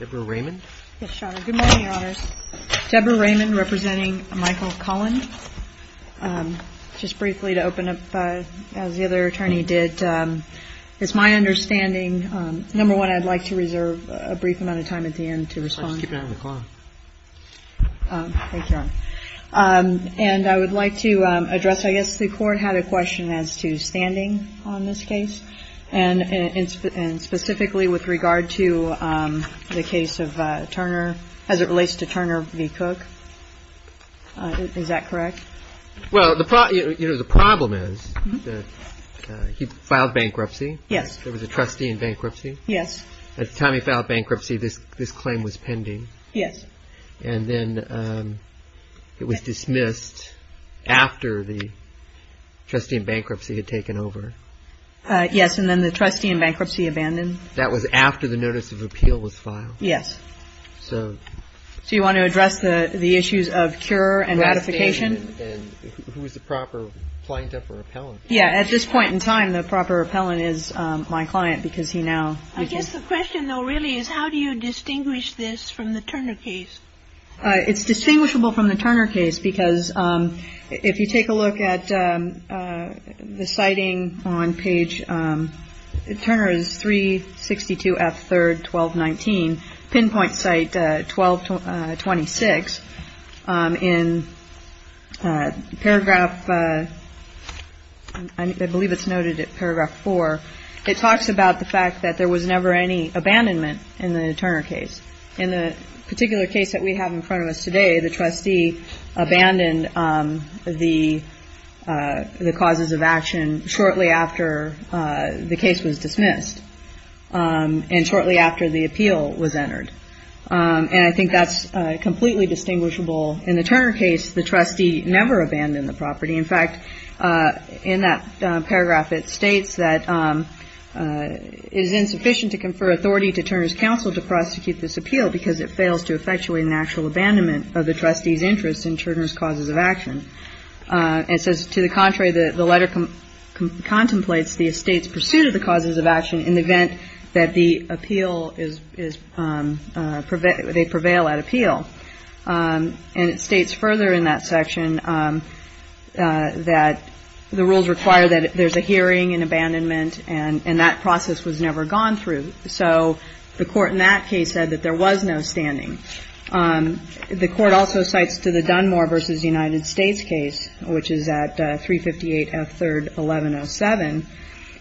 DEBORAH RAYMOND v. MICHAEL CULLEN The court had a question as to standing on this case. And specifically with regard to the case of Turner, as it relates to Turner v. Cook. Is that correct? Well, the problem is that he filed bankruptcy. Yes. There was a trustee in bankruptcy. Yes. At the time he filed bankruptcy, this claim was pending. Yes. And then it was dismissed after the trustee in bankruptcy had taken over. Yes. And then the trustee in bankruptcy abandoned. That was after the notice of appeal was filed? Yes. So you want to address the issues of cure and ratification? Ratification. And who is the proper plaintiff or appellant? Yes. At this point in time, the proper appellant is my client, because he now – I guess the question, though, really, is how do you distinguish this from the Turner case? It's distinguishable from the Turner case, because if you take a look at the citing on page – Turner is 362 F. 3rd, 1219, pinpoint site 1226. In paragraph – I believe it's noted at paragraph 4. It talks about the fact that there was never any abandonment in the Turner case. In the particular case that we have in front of us today, the trustee abandoned the causes of action shortly after the case was dismissed and shortly after the appeal was entered. And I think that's completely distinguishable. In the Turner case, the trustee never abandoned the property. In fact, in that paragraph, it states that it is insufficient to confer authority to Turner's counsel to prosecute this appeal because it fails to effectuate an actual abandonment of the trustee's interest in Turner's causes of action. And it says, to the contrary, the letter contemplates the estate's pursuit of the causes of action in the event that the appeal is – they prevail at appeal. And it states further in that section that the rules require that there's a hearing and abandonment and that process was never gone through. So the court in that case said that there was no standing. The court also cites to the Dunmore v. United States case, which is at 358 F. 3rd, 1107,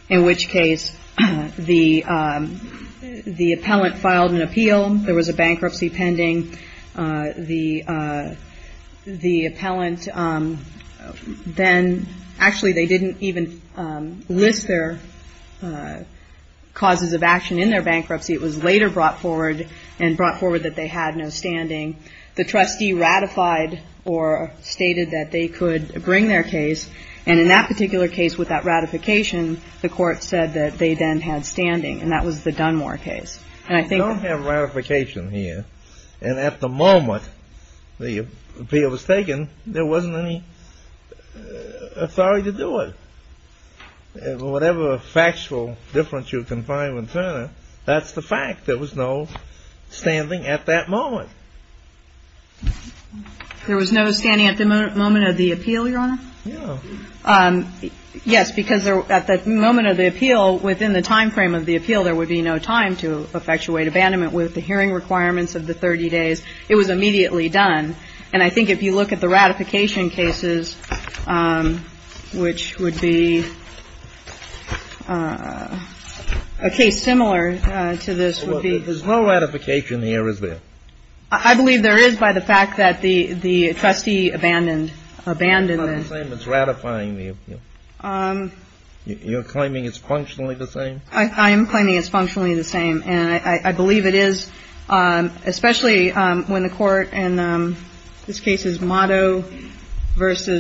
in which case the appellant filed an appeal. There was a bankruptcy pending. The appellant then – actually, they didn't even list their causes of action in their bankruptcy. It was later brought forward and brought forward that they had no standing. The trustee ratified or stated that they could bring their case. And in that particular case, with that ratification, the court said that they then had standing. And that was the Dunmore case. And I think – You don't have ratification here. And at the moment the appeal was taken, there wasn't any authority to do it. Whatever factual difference you can find with Turner, that's the fact. There was no standing at that moment. There was no standing at the moment of the appeal, Your Honor? No. Yes, because at the moment of the appeal, within the timeframe of the appeal, there would be no time to effectuate abandonment with the hearing requirements of the 30 days. It was immediately done. And I think if you look at the ratification cases, which would be a case similar to this, would be – There's no ratification here, is there? I believe there is by the fact that the trustee abandoned the – Do you claim it's ratifying the appeal? You're claiming it's functionally the same? I am claiming it's functionally the same. And I believe it is, especially when the court – and this case is Motto v.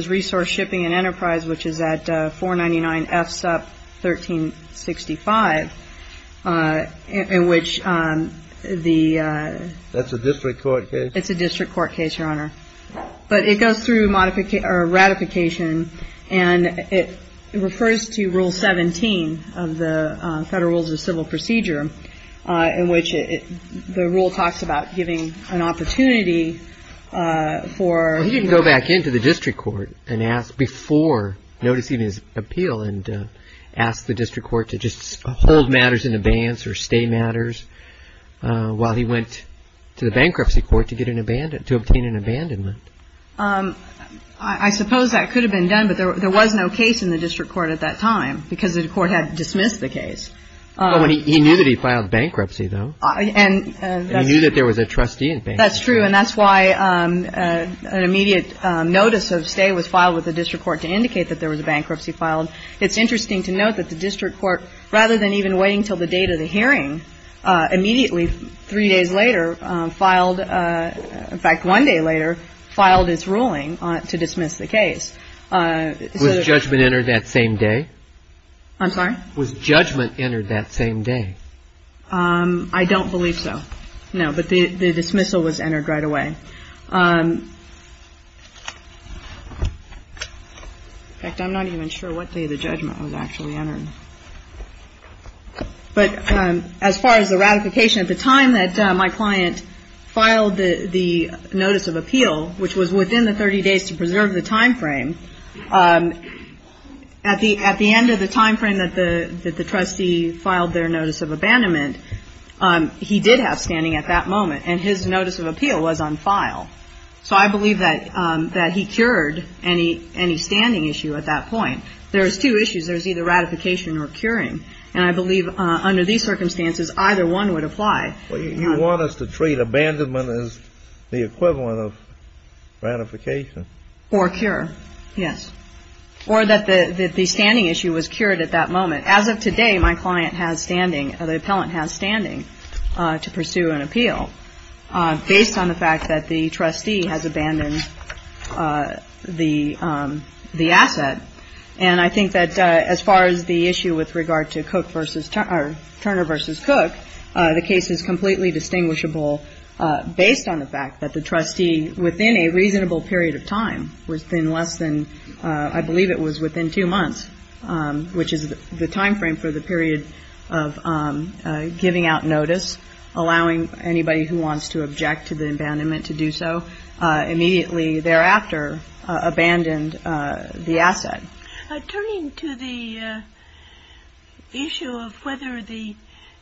Resource Shipping and Enterprise, which is at 499 F. Supp. 1365, in which the – That's a district court case? It's a district court case, Your Honor. But it goes through ratification and it refers to Rule 17 of the Federal Rules of Civil Procedure, in which the rule talks about giving an opportunity for – Well, he didn't go back into the district court and ask – before noticing his appeal and ask the district court to just hold matters in abeyance or stay matters while he went to the bankruptcy court to get an – to obtain an abandonment. I suppose that could have been done, but there was no case in the district court at that time because the court had dismissed the case. Well, he knew that he filed bankruptcy, though. And that's – He knew that there was a trustee in bankruptcy. That's true. And that's why an immediate notice of stay was filed with the district court to indicate that there was a bankruptcy filed. It's interesting to note that the district court, rather than even waiting until the date of the hearing, immediately, three days later, filed – in fact, one day later, filed its ruling to dismiss the case. Was judgment entered that same day? I'm sorry? Was judgment entered that same day? I don't believe so, no. But the dismissal was entered right away. In fact, I'm not even sure what day the judgment was actually entered. But as far as the ratification, at the time that my client filed the notice of appeal, which was within the 30 days to preserve the timeframe, at the end of the timeframe that the trustee filed their notice of abandonment, he did have standing at that moment, and his notice of appeal was on file. So I believe that he cured any standing issue at that point. There's two issues. There's either ratification or curing. And I believe under these circumstances, either one would apply. Well, you want us to treat abandonment as the equivalent of ratification. Or cure, yes. Or that the standing issue was cured at that moment. As of today, my client has standing, or the appellant has standing, to pursue an appeal, based on the fact that the trustee has abandoned the asset. And I think that as far as the issue with regard to Turner versus Cook, the case is completely distinguishable based on the fact that the trustee, within a reasonable period of time, within less than, I believe it was within two months, which is the timeframe for the period of giving out notice, allowing anybody who wants to object to the abandonment to do so, immediately thereafter abandoned the asset. Turning to the issue of whether the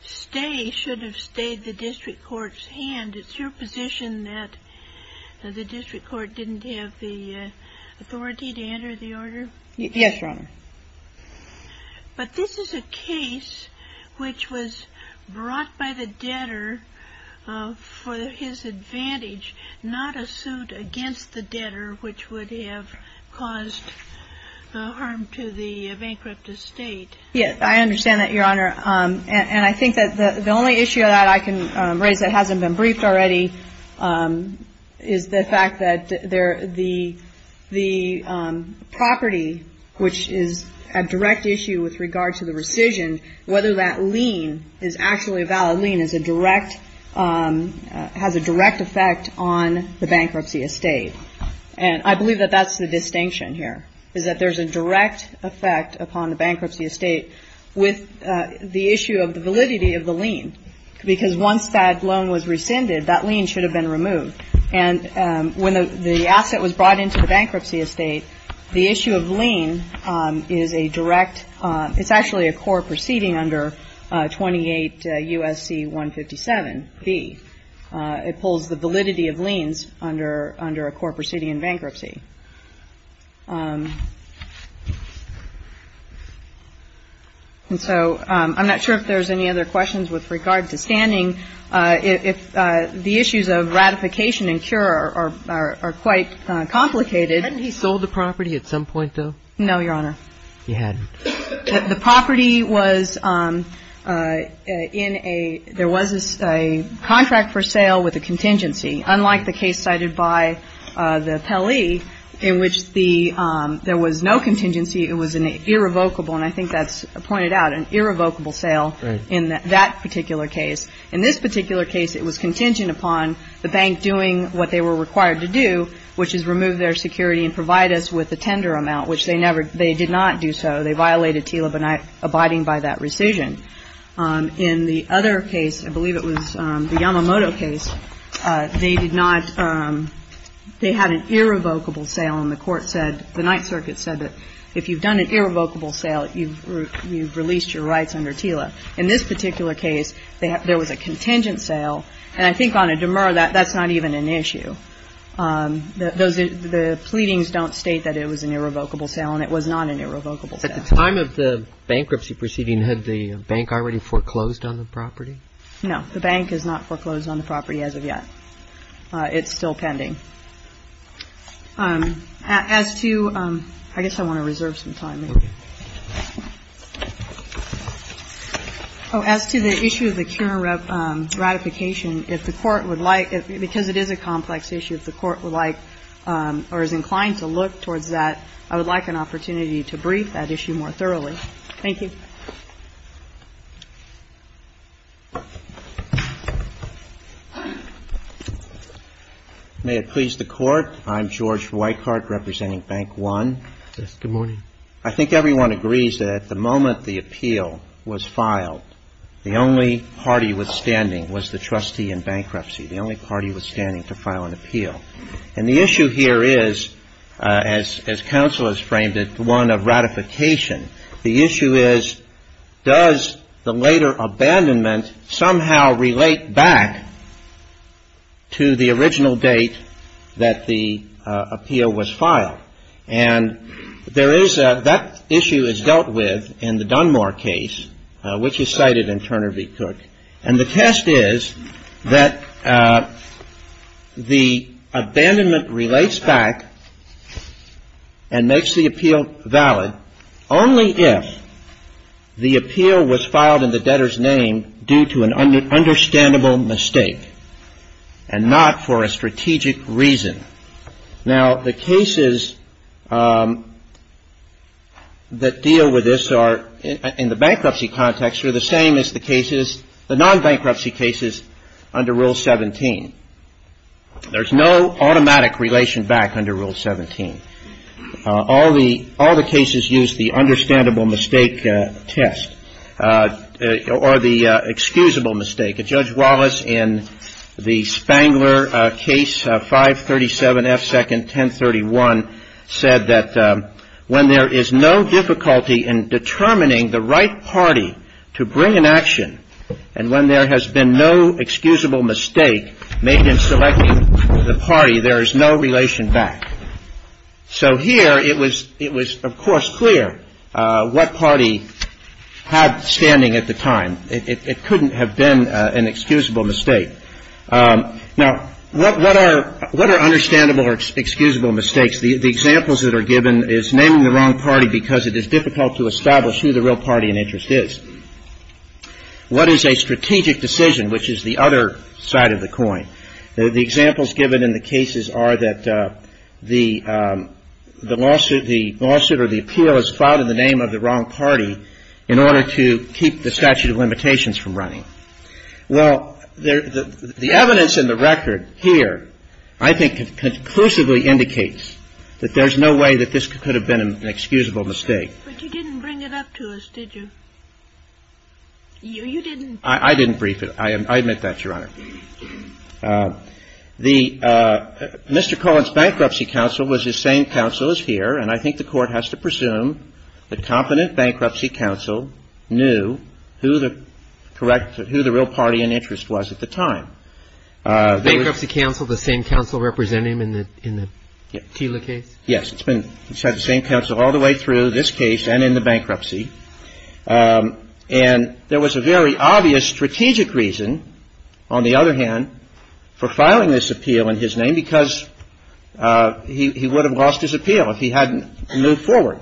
stay should have stayed the district court's hand, it's your position that the district court didn't have the authority to enter the order? Yes, Your Honor. But this is a case which was brought by the debtor for his advantage, not a suit against the debtor which would have caused harm to the bankrupt estate. Yes. I understand that, Your Honor. And I think that the only issue that I can raise that hasn't been briefed already is the fact that the property, which is a direct issue with regard to the rescission, whether that lien is actually a valid lien has a direct effect on the bankruptcy estate. And I believe that that's the distinction here, is that there's a direct effect upon the bankruptcy estate with the issue of the validity of the lien. Because once that loan was rescinded, that lien should have been removed. And when the asset was brought into the bankruptcy estate, the issue of lien is a direct, it's actually a core proceeding under 28 U.S.C. 157B. It pulls the validity of liens under a core proceeding in bankruptcy. And so I'm not sure if there's any other questions with regard to standing. If the issues of ratification and cure are quite complicated. Hadn't he sold the property at some point, though? No, Your Honor. He hadn't. The property was in a, there was a contract for sale with a contingency. Unlike the case cited by the Pele, in which the, there was no contingency. It was an irrevocable, and I think that's pointed out, an irrevocable sale in that particular case. In this particular case, it was contingent upon the bank doing what they were required to do, which is remove their security and provide us with a tender amount, which they never, they did not do so. They violated TILA, but not abiding by that rescission. In the other case, I believe it was the Yamamoto case, they did not, they had an irrevocable sale, and the court said, the Ninth Circuit said that if you've done an irrevocable sale, you've released your rights under TILA. In this particular case, there was a contingent sale, and I think on a demur, that's not even an issue. Those, the pleadings don't state that it was an irrevocable sale, and it was not an irrevocable sale. At the time of the bankruptcy proceeding, had the bank already foreclosed on the property? No. The bank has not foreclosed on the property as of yet. It's still pending. As to, I guess I want to reserve some time. Oh, as to the issue of the current ratification, if the court would like, because it is a complex issue, if the court would like, or is inclined to look towards that, I would like an opportunity to brief that issue more thoroughly. Thank you. May it please the Court. I'm George Weickart, representing Bank One. Yes, good morning. I think everyone agrees that at the moment the appeal was filed, the only party withstanding was the trustee in bankruptcy. The only party withstanding to file an appeal. And the issue here is, as counsel has framed it, one of ratification. The issue is, does the later abandonment somehow relate back to the original date that the appeal was filed? And there is a, that issue is dealt with in the Dunmore case, which is cited in Turner v. Cook. And the test is that the abandonment relates back and makes the appeal valid only if the appeal was filed in the debtor's name due to an understandable mistake, and not for a strategic reason. Now, the cases that deal with this are, in the bankruptcy context, are the same as the cases, the non-bankruptcy cases under Rule 17. There's no automatic relation back under Rule 17. All the cases use the understandable mistake test, or the excusable mistake. Judge Wallace, in the Spangler case, 537 F. 2nd. 1031, said that when there is no difficulty in determining the right party to bring an action, and when there has been no excusable mistake made in selecting the party, there is no relation back. So here, it was, of course, clear what party had standing at the time. It couldn't have been an excusable mistake. Now, what are understandable or excusable mistakes? The examples that are given is naming the wrong party because it is difficult to establish who the real party in interest is. What is a strategic decision, which is the other side of the coin? The examples given in the cases are that the lawsuit or the appeal is filed in the name of the wrong party in order to keep the statute of limitations from running. Well, the evidence in the record here, I think, conclusively indicates that there's no way that this could have been an excusable mistake. But you didn't bring it up to us, did you? You didn't? I didn't brief it. I admit that, Your Honor. The Mr. Cullen's bankruptcy counsel was the same counsel as here, and I think the Court has to presume that competent bankruptcy counsel knew who the real party in interest was at the time. Bankruptcy counsel, the same counsel representing him in the Teela case? Yes. It's been the same counsel all the way through this case and in the bankruptcy. And there was a very obvious strategic reason, on the other hand, for filing this appeal in his name, because he would have lost his appeal if he hadn't moved forward.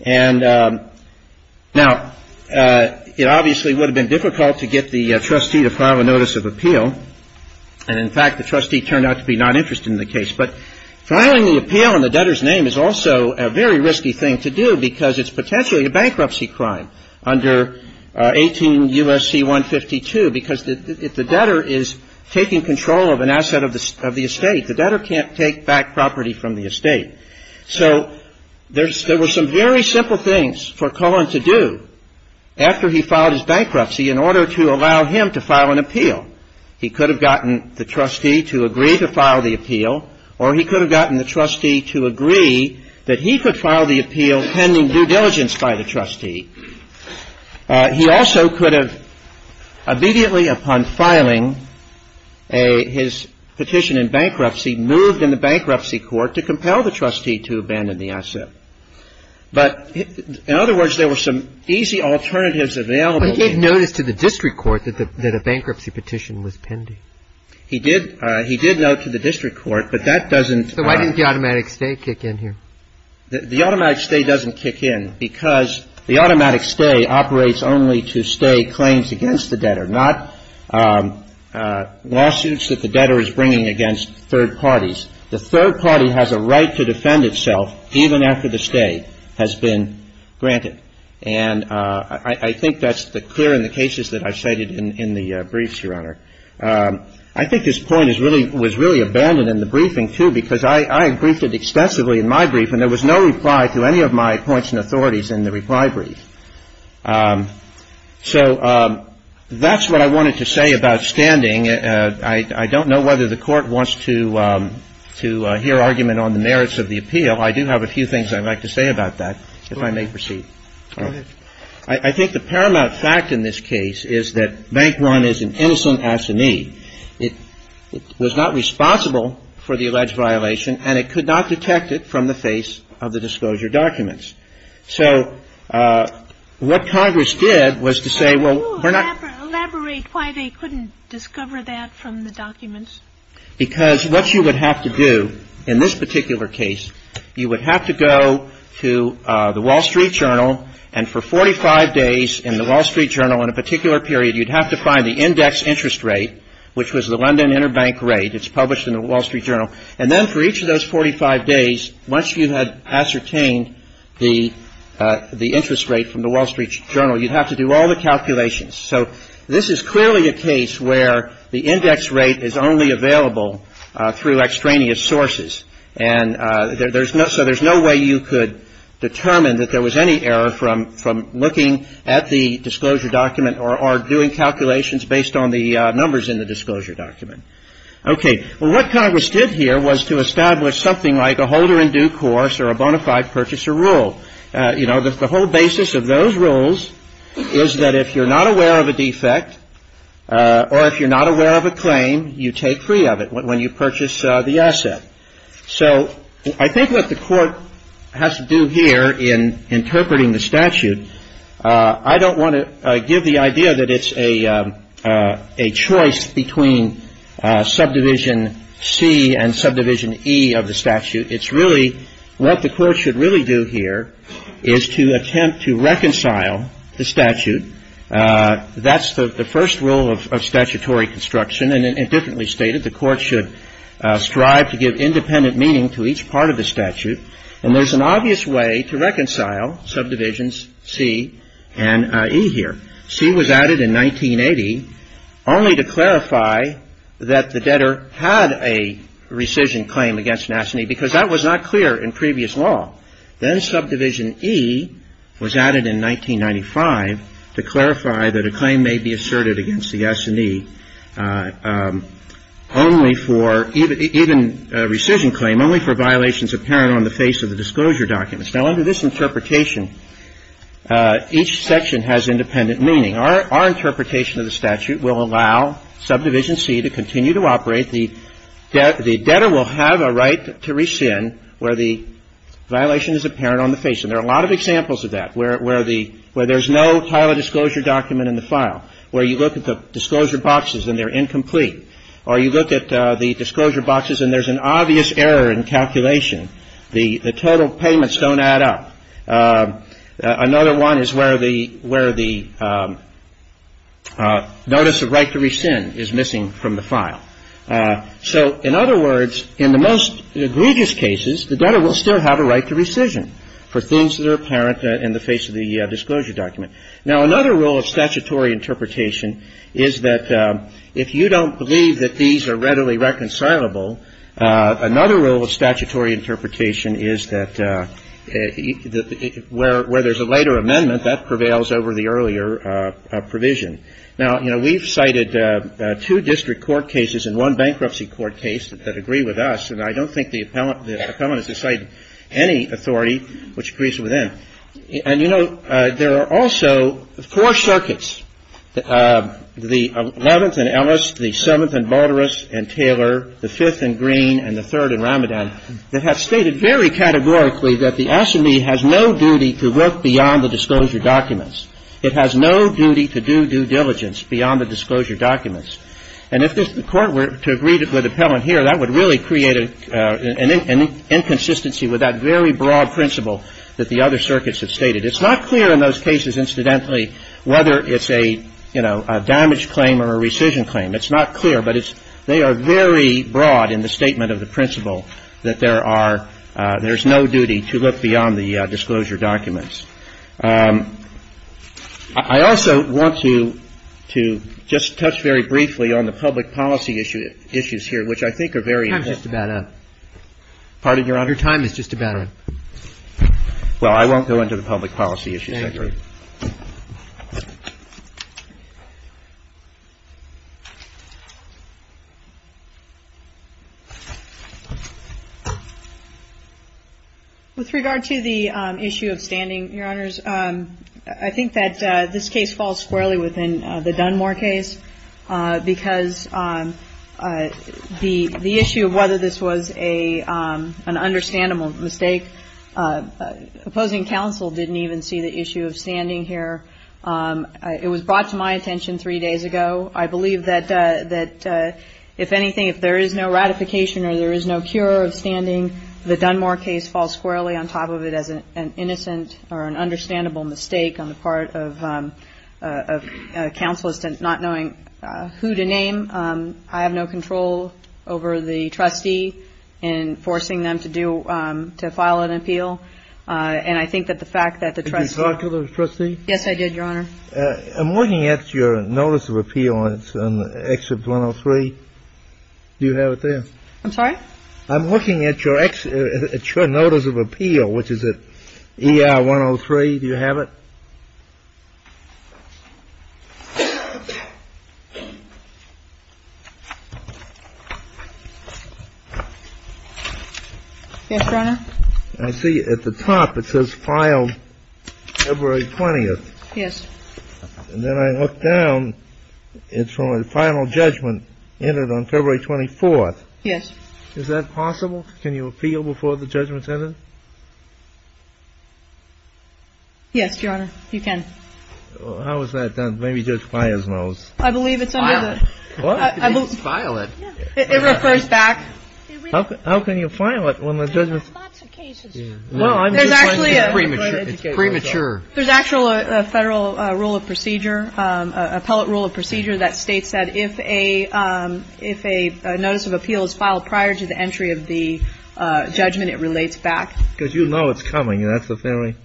And now, it obviously would have been difficult to get the trustee to file a notice of appeal. And in fact, the trustee turned out to be not interested in the case. But filing the appeal in the debtor's name is also a very risky thing to do, because it's potentially a bankruptcy crime under 18 U.S.C. 152, because if the debtor is taking control of an asset of the estate, the debtor can't take back property from the estate. So there were some very simple things for Cullen to do after he filed his bankruptcy in order to allow him to file an appeal. He could have gotten the trustee to agree to file the appeal, or he could have gotten the trustee to agree that he could file the appeal pending due diligence by the trustee. He also could have, immediately upon filing his petition in bankruptcy, moved in the bankruptcy court to compel the trustee to abandon the asset. But in other words, there were some easy alternatives available. But he gave notice to the district court that a bankruptcy petition was pending. He did note to the district court, but that doesn't – So why didn't the automatic stay kick in here? The automatic stay doesn't kick in because the automatic stay operates only to stay claims against the debtor, not lawsuits that the debtor is bringing against third parties. The third party has a right to defend itself even after the stay has been granted. And I think that's clear in the cases that I've cited in the briefs, Your Honor. I think this point is really – was really abandoned in the briefing, too, because I briefed it extensively in my brief, and there was no reply to any of my points and authorities in the reply brief. So that's what I wanted to say about standing. I don't know whether the Court wants to hear argument on the merits of the appeal. I do have a few things I'd like to say about that, if I may proceed. Go ahead. I think the paramount fact in this case is that Bank One is an innocent assignee. It was not responsible for the alleged violation, and it could not detect it from the face of the disclosure documents. So what Congress did was to say, well, we're not – Can you elaborate why they couldn't discover that from the documents? Because what you would have to do in this particular case, you would have to go to the Wall Street Journal, and for 45 days in the Wall Street Journal in a particular period, you'd have to find the index interest rate, which was the London Interbank Rate. It's published in the Wall Street Journal. And then for each of those 45 days, once you had ascertained the interest rate from the Wall Street Journal, you'd have to do all the calculations. So this is clearly a case where the index rate is only available through extraneous sources, and there's no – so there's no way you could determine that there was any error from looking at the disclosure document or doing calculations based on the numbers in the disclosure document. Okay. Well, what Congress did here was to establish something like a holder in due course or a bona fide purchaser rule. You know, the whole basis of those rules is that if you're not aware of a defect or if you're not aware of a claim, you take free of it when you purchase the asset. So I think what the court has to do here in interpreting the statute, I don't want to give the idea that it's a choice between subdivision C and subdivision E of the statute. It's really – what the court should really do here is to attempt to reconcile the statute. That's the first rule of statutory construction, and it differently stated, the court should strive to give independent meaning to each part of the statute. And there's an obvious way to reconcile subdivisions C and E here. C was added in 1980 only to clarify that the debtor had a rescission claim against an assignee because that was not clear in previous law. Then subdivision E was added in 1995 to clarify that a claim may be asserted against the assignee only for – even a rescission claim only for violations apparent on the face of the disclosure documents. Now, under this interpretation, each section has independent meaning. Our interpretation of the statute will allow subdivision C to continue to operate. The debtor will have a right to rescind where the violation is apparent on the face. And there are a lot of examples of that where the – where there's no title disclosure document in the file, where you look at the disclosure boxes and they're incomplete, or you look at the disclosure boxes and there's an obvious error in calculation. The total payments don't add up. Another one is where the – where the notice of right to rescind is missing from the file. So, in other words, in the most egregious cases, the debtor will still have a right to rescission for things that are apparent in the face of the disclosure document. Now, another rule of statutory interpretation is that if you don't believe that these are readily reconcilable, another rule of statutory interpretation is that where there's a later amendment, that prevails over the earlier provision. Now, you know, we've cited two district court cases and one bankruptcy court case that agree with us, and I don't think the appellant has to cite any authority which agrees with them. And, you know, there are also four circuits, the 11th and Ellis, the 7th and Balderas and Taylor, the 5th and Green and the 3rd and Ramadan, that have stated very categorically that the SME has no duty to look beyond the disclosure documents. It has no duty to do due diligence beyond the disclosure documents. And if the court were to agree with the appellant here, that would really create an inconsistency with that very broad principle that the other circuits have stated. It's not clear in those cases, incidentally, whether it's a, you know, a damage claim or a rescission claim. It's not clear, but it's they are very broad in the statement of the principle that there are there's no duty to look beyond the disclosure documents. I also want to just touch very briefly on the public policy issues here, which I think are very important. Pardon, Your Honor, time is just about up. Well, I won't go into the public policy issues. I agree. With regard to the issue of standing, Your Honors, I think that this case falls squarely within the Dunmore case because the issue of whether this was an understandable mistake, opposing counsel didn't even see the issue of standing here. It was brought to my attention three days ago. I believe that if anything, if there is no ratification or there is no cure of standing, the Dunmore case falls squarely on top of it as an innocent or an understandable mistake on the part of a counselor not knowing who to name. I have no control over the trustee in forcing them to do to file an appeal. And I think that the fact that the trustee. Yes, I did, Your Honor. I'm looking at your notice of appeal. It's an extra 103. Do you have it there? I'm sorry. I'm looking at your notice of appeal, which is ER 103. Do you have it? Yes, Your Honor. I see at the top it says filed February 20th. Yes. And then I look down. It's from a final judgment entered on February 24th. Yes. Is that possible? Can you appeal before the judgment's entered? Yes, Your Honor. You can. How is that done? Maybe Judge Fires knows. I believe it's under the. File it. What? File it. It refers back. How can you file it when the judgment. There are lots of cases. Well, I'm just trying to be premature. It's premature. There's actually a Federal rule of procedure, appellate rule of procedure that states that if a notice of appeal is filed prior to the entry of the judgment, it relates back. Because you know it's coming. That's the theory.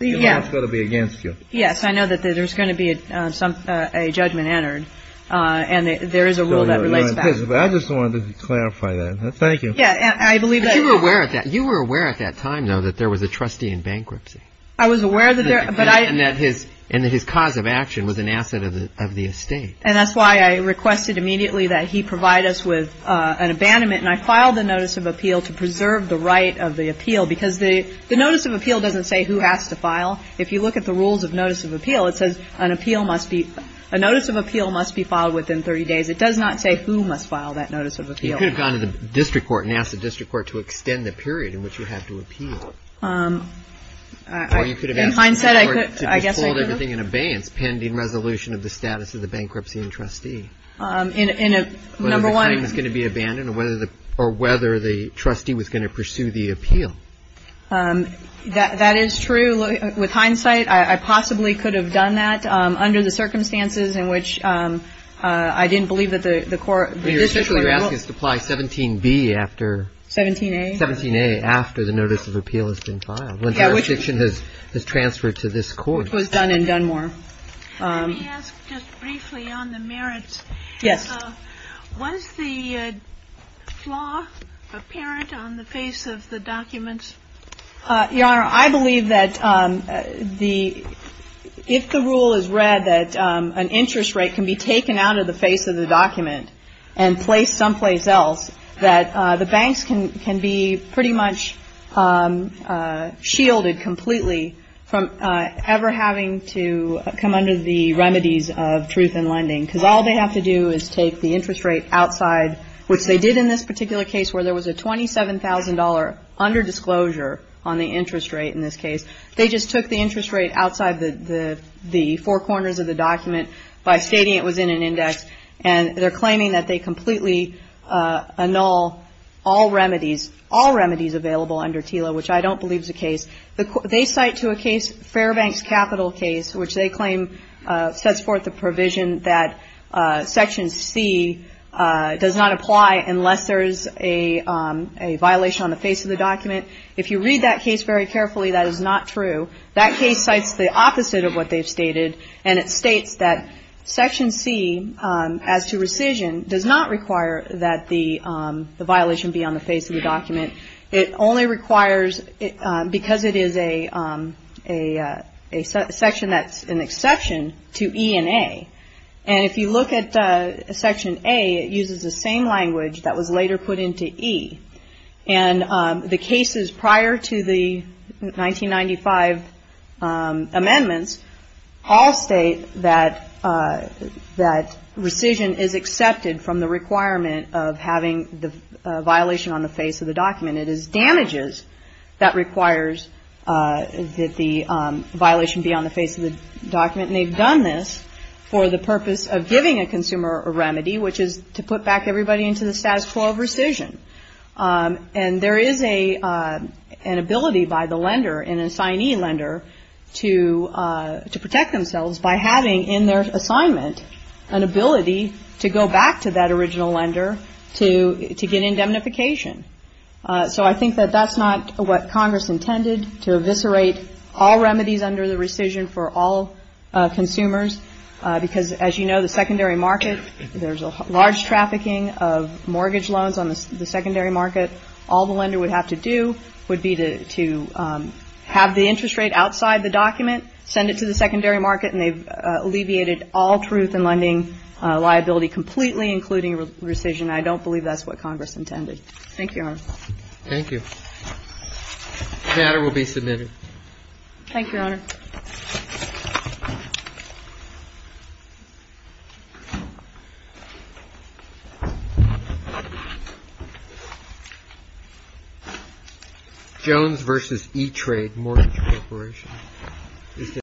You know it's going to be against you. Yes. I know that there's going to be a judgment entered, and there is a rule that relates back. I just wanted to clarify that. Thank you. Yeah. I believe. You were aware at that time, though, that there was a trustee in bankruptcy. I was aware. And that his cause of action was an asset of the estate. And that's why I requested immediately that he provide us with an abandonment. And I filed the notice of appeal to preserve the right of the appeal. Because the notice of appeal doesn't say who has to file. If you look at the rules of notice of appeal, it says a notice of appeal must be filed within 30 days. It does not say who must file that notice of appeal. You could have gone to the district court and asked the district court to extend the period in which you have to appeal. Or you could have asked the district court to withhold everything in abeyance, pending resolution of the status of the bankruptcy and trustee. Number one. Whether the claim is going to be abandoned or whether the trustee was going to pursue the appeal. That is true. With hindsight, I possibly could have done that under the circumstances in which I didn't believe that the court. You're actually asking us to apply 17B after. 17A. 17A, after the notice of appeal has been filed. Yeah. When the jurisdiction has transferred to this court. Which was done in Dunmore. Let me ask just briefly on the merits. Yes. Was the flaw apparent on the face of the documents? Your Honor, I believe that the ‑‑ if the rule is read that an interest rate can be taken out of the face of the document and placed someplace else, that the banks can be pretty much shielded completely from ever having to come under the remedies of truth in lending. Because all they have to do is take the interest rate outside, which they did in this particular case where there was a $27,000 under disclosure on the interest rate in this case. They just took the interest rate outside the four corners of the document by stating it was in an index. And they're claiming that they completely annul all remedies, all remedies available under TILA, which I don't believe is the case. They cite to a case Fairbanks Capital case, which they claim sets forth the provision that Section C does not apply unless there is a violation on the face of the document. If you read that case very carefully, that is not true. That case cites the opposite of what they've stated, and it states that Section C, as to rescission, does not require that the violation be on the face of the document. It only requires, because it is a section that's an exception to E and A. And if you look at Section A, it uses the same language that was later put into E. And the cases prior to the 1995 amendments all state that rescission is accepted from the requirement of having the violation on the face of the document. It is damages that requires that the violation be on the face of the document. And they've done this for the purpose of giving a consumer a remedy, which is to put back everybody into the status quo of rescission. And there is an ability by the lender, an assignee lender, to protect themselves by having in their assignment an ability to go back to that original lender to get indemnification. So I think that that's not what Congress intended, to eviscerate all remedies under the rescission for all consumers, because as you know, the secondary market, there's a large trafficking of mortgage loans on the secondary market. All the lender would have to do would be to have the interest rate outside the document, send it to the secondary market, and they've alleviated all truth in lending liability completely, including rescission. I don't believe that's what Congress intended. Thank you, Your Honor. Thank you. The matter will be submitted. Thank you, Your Honor. Thank you, Your Honor.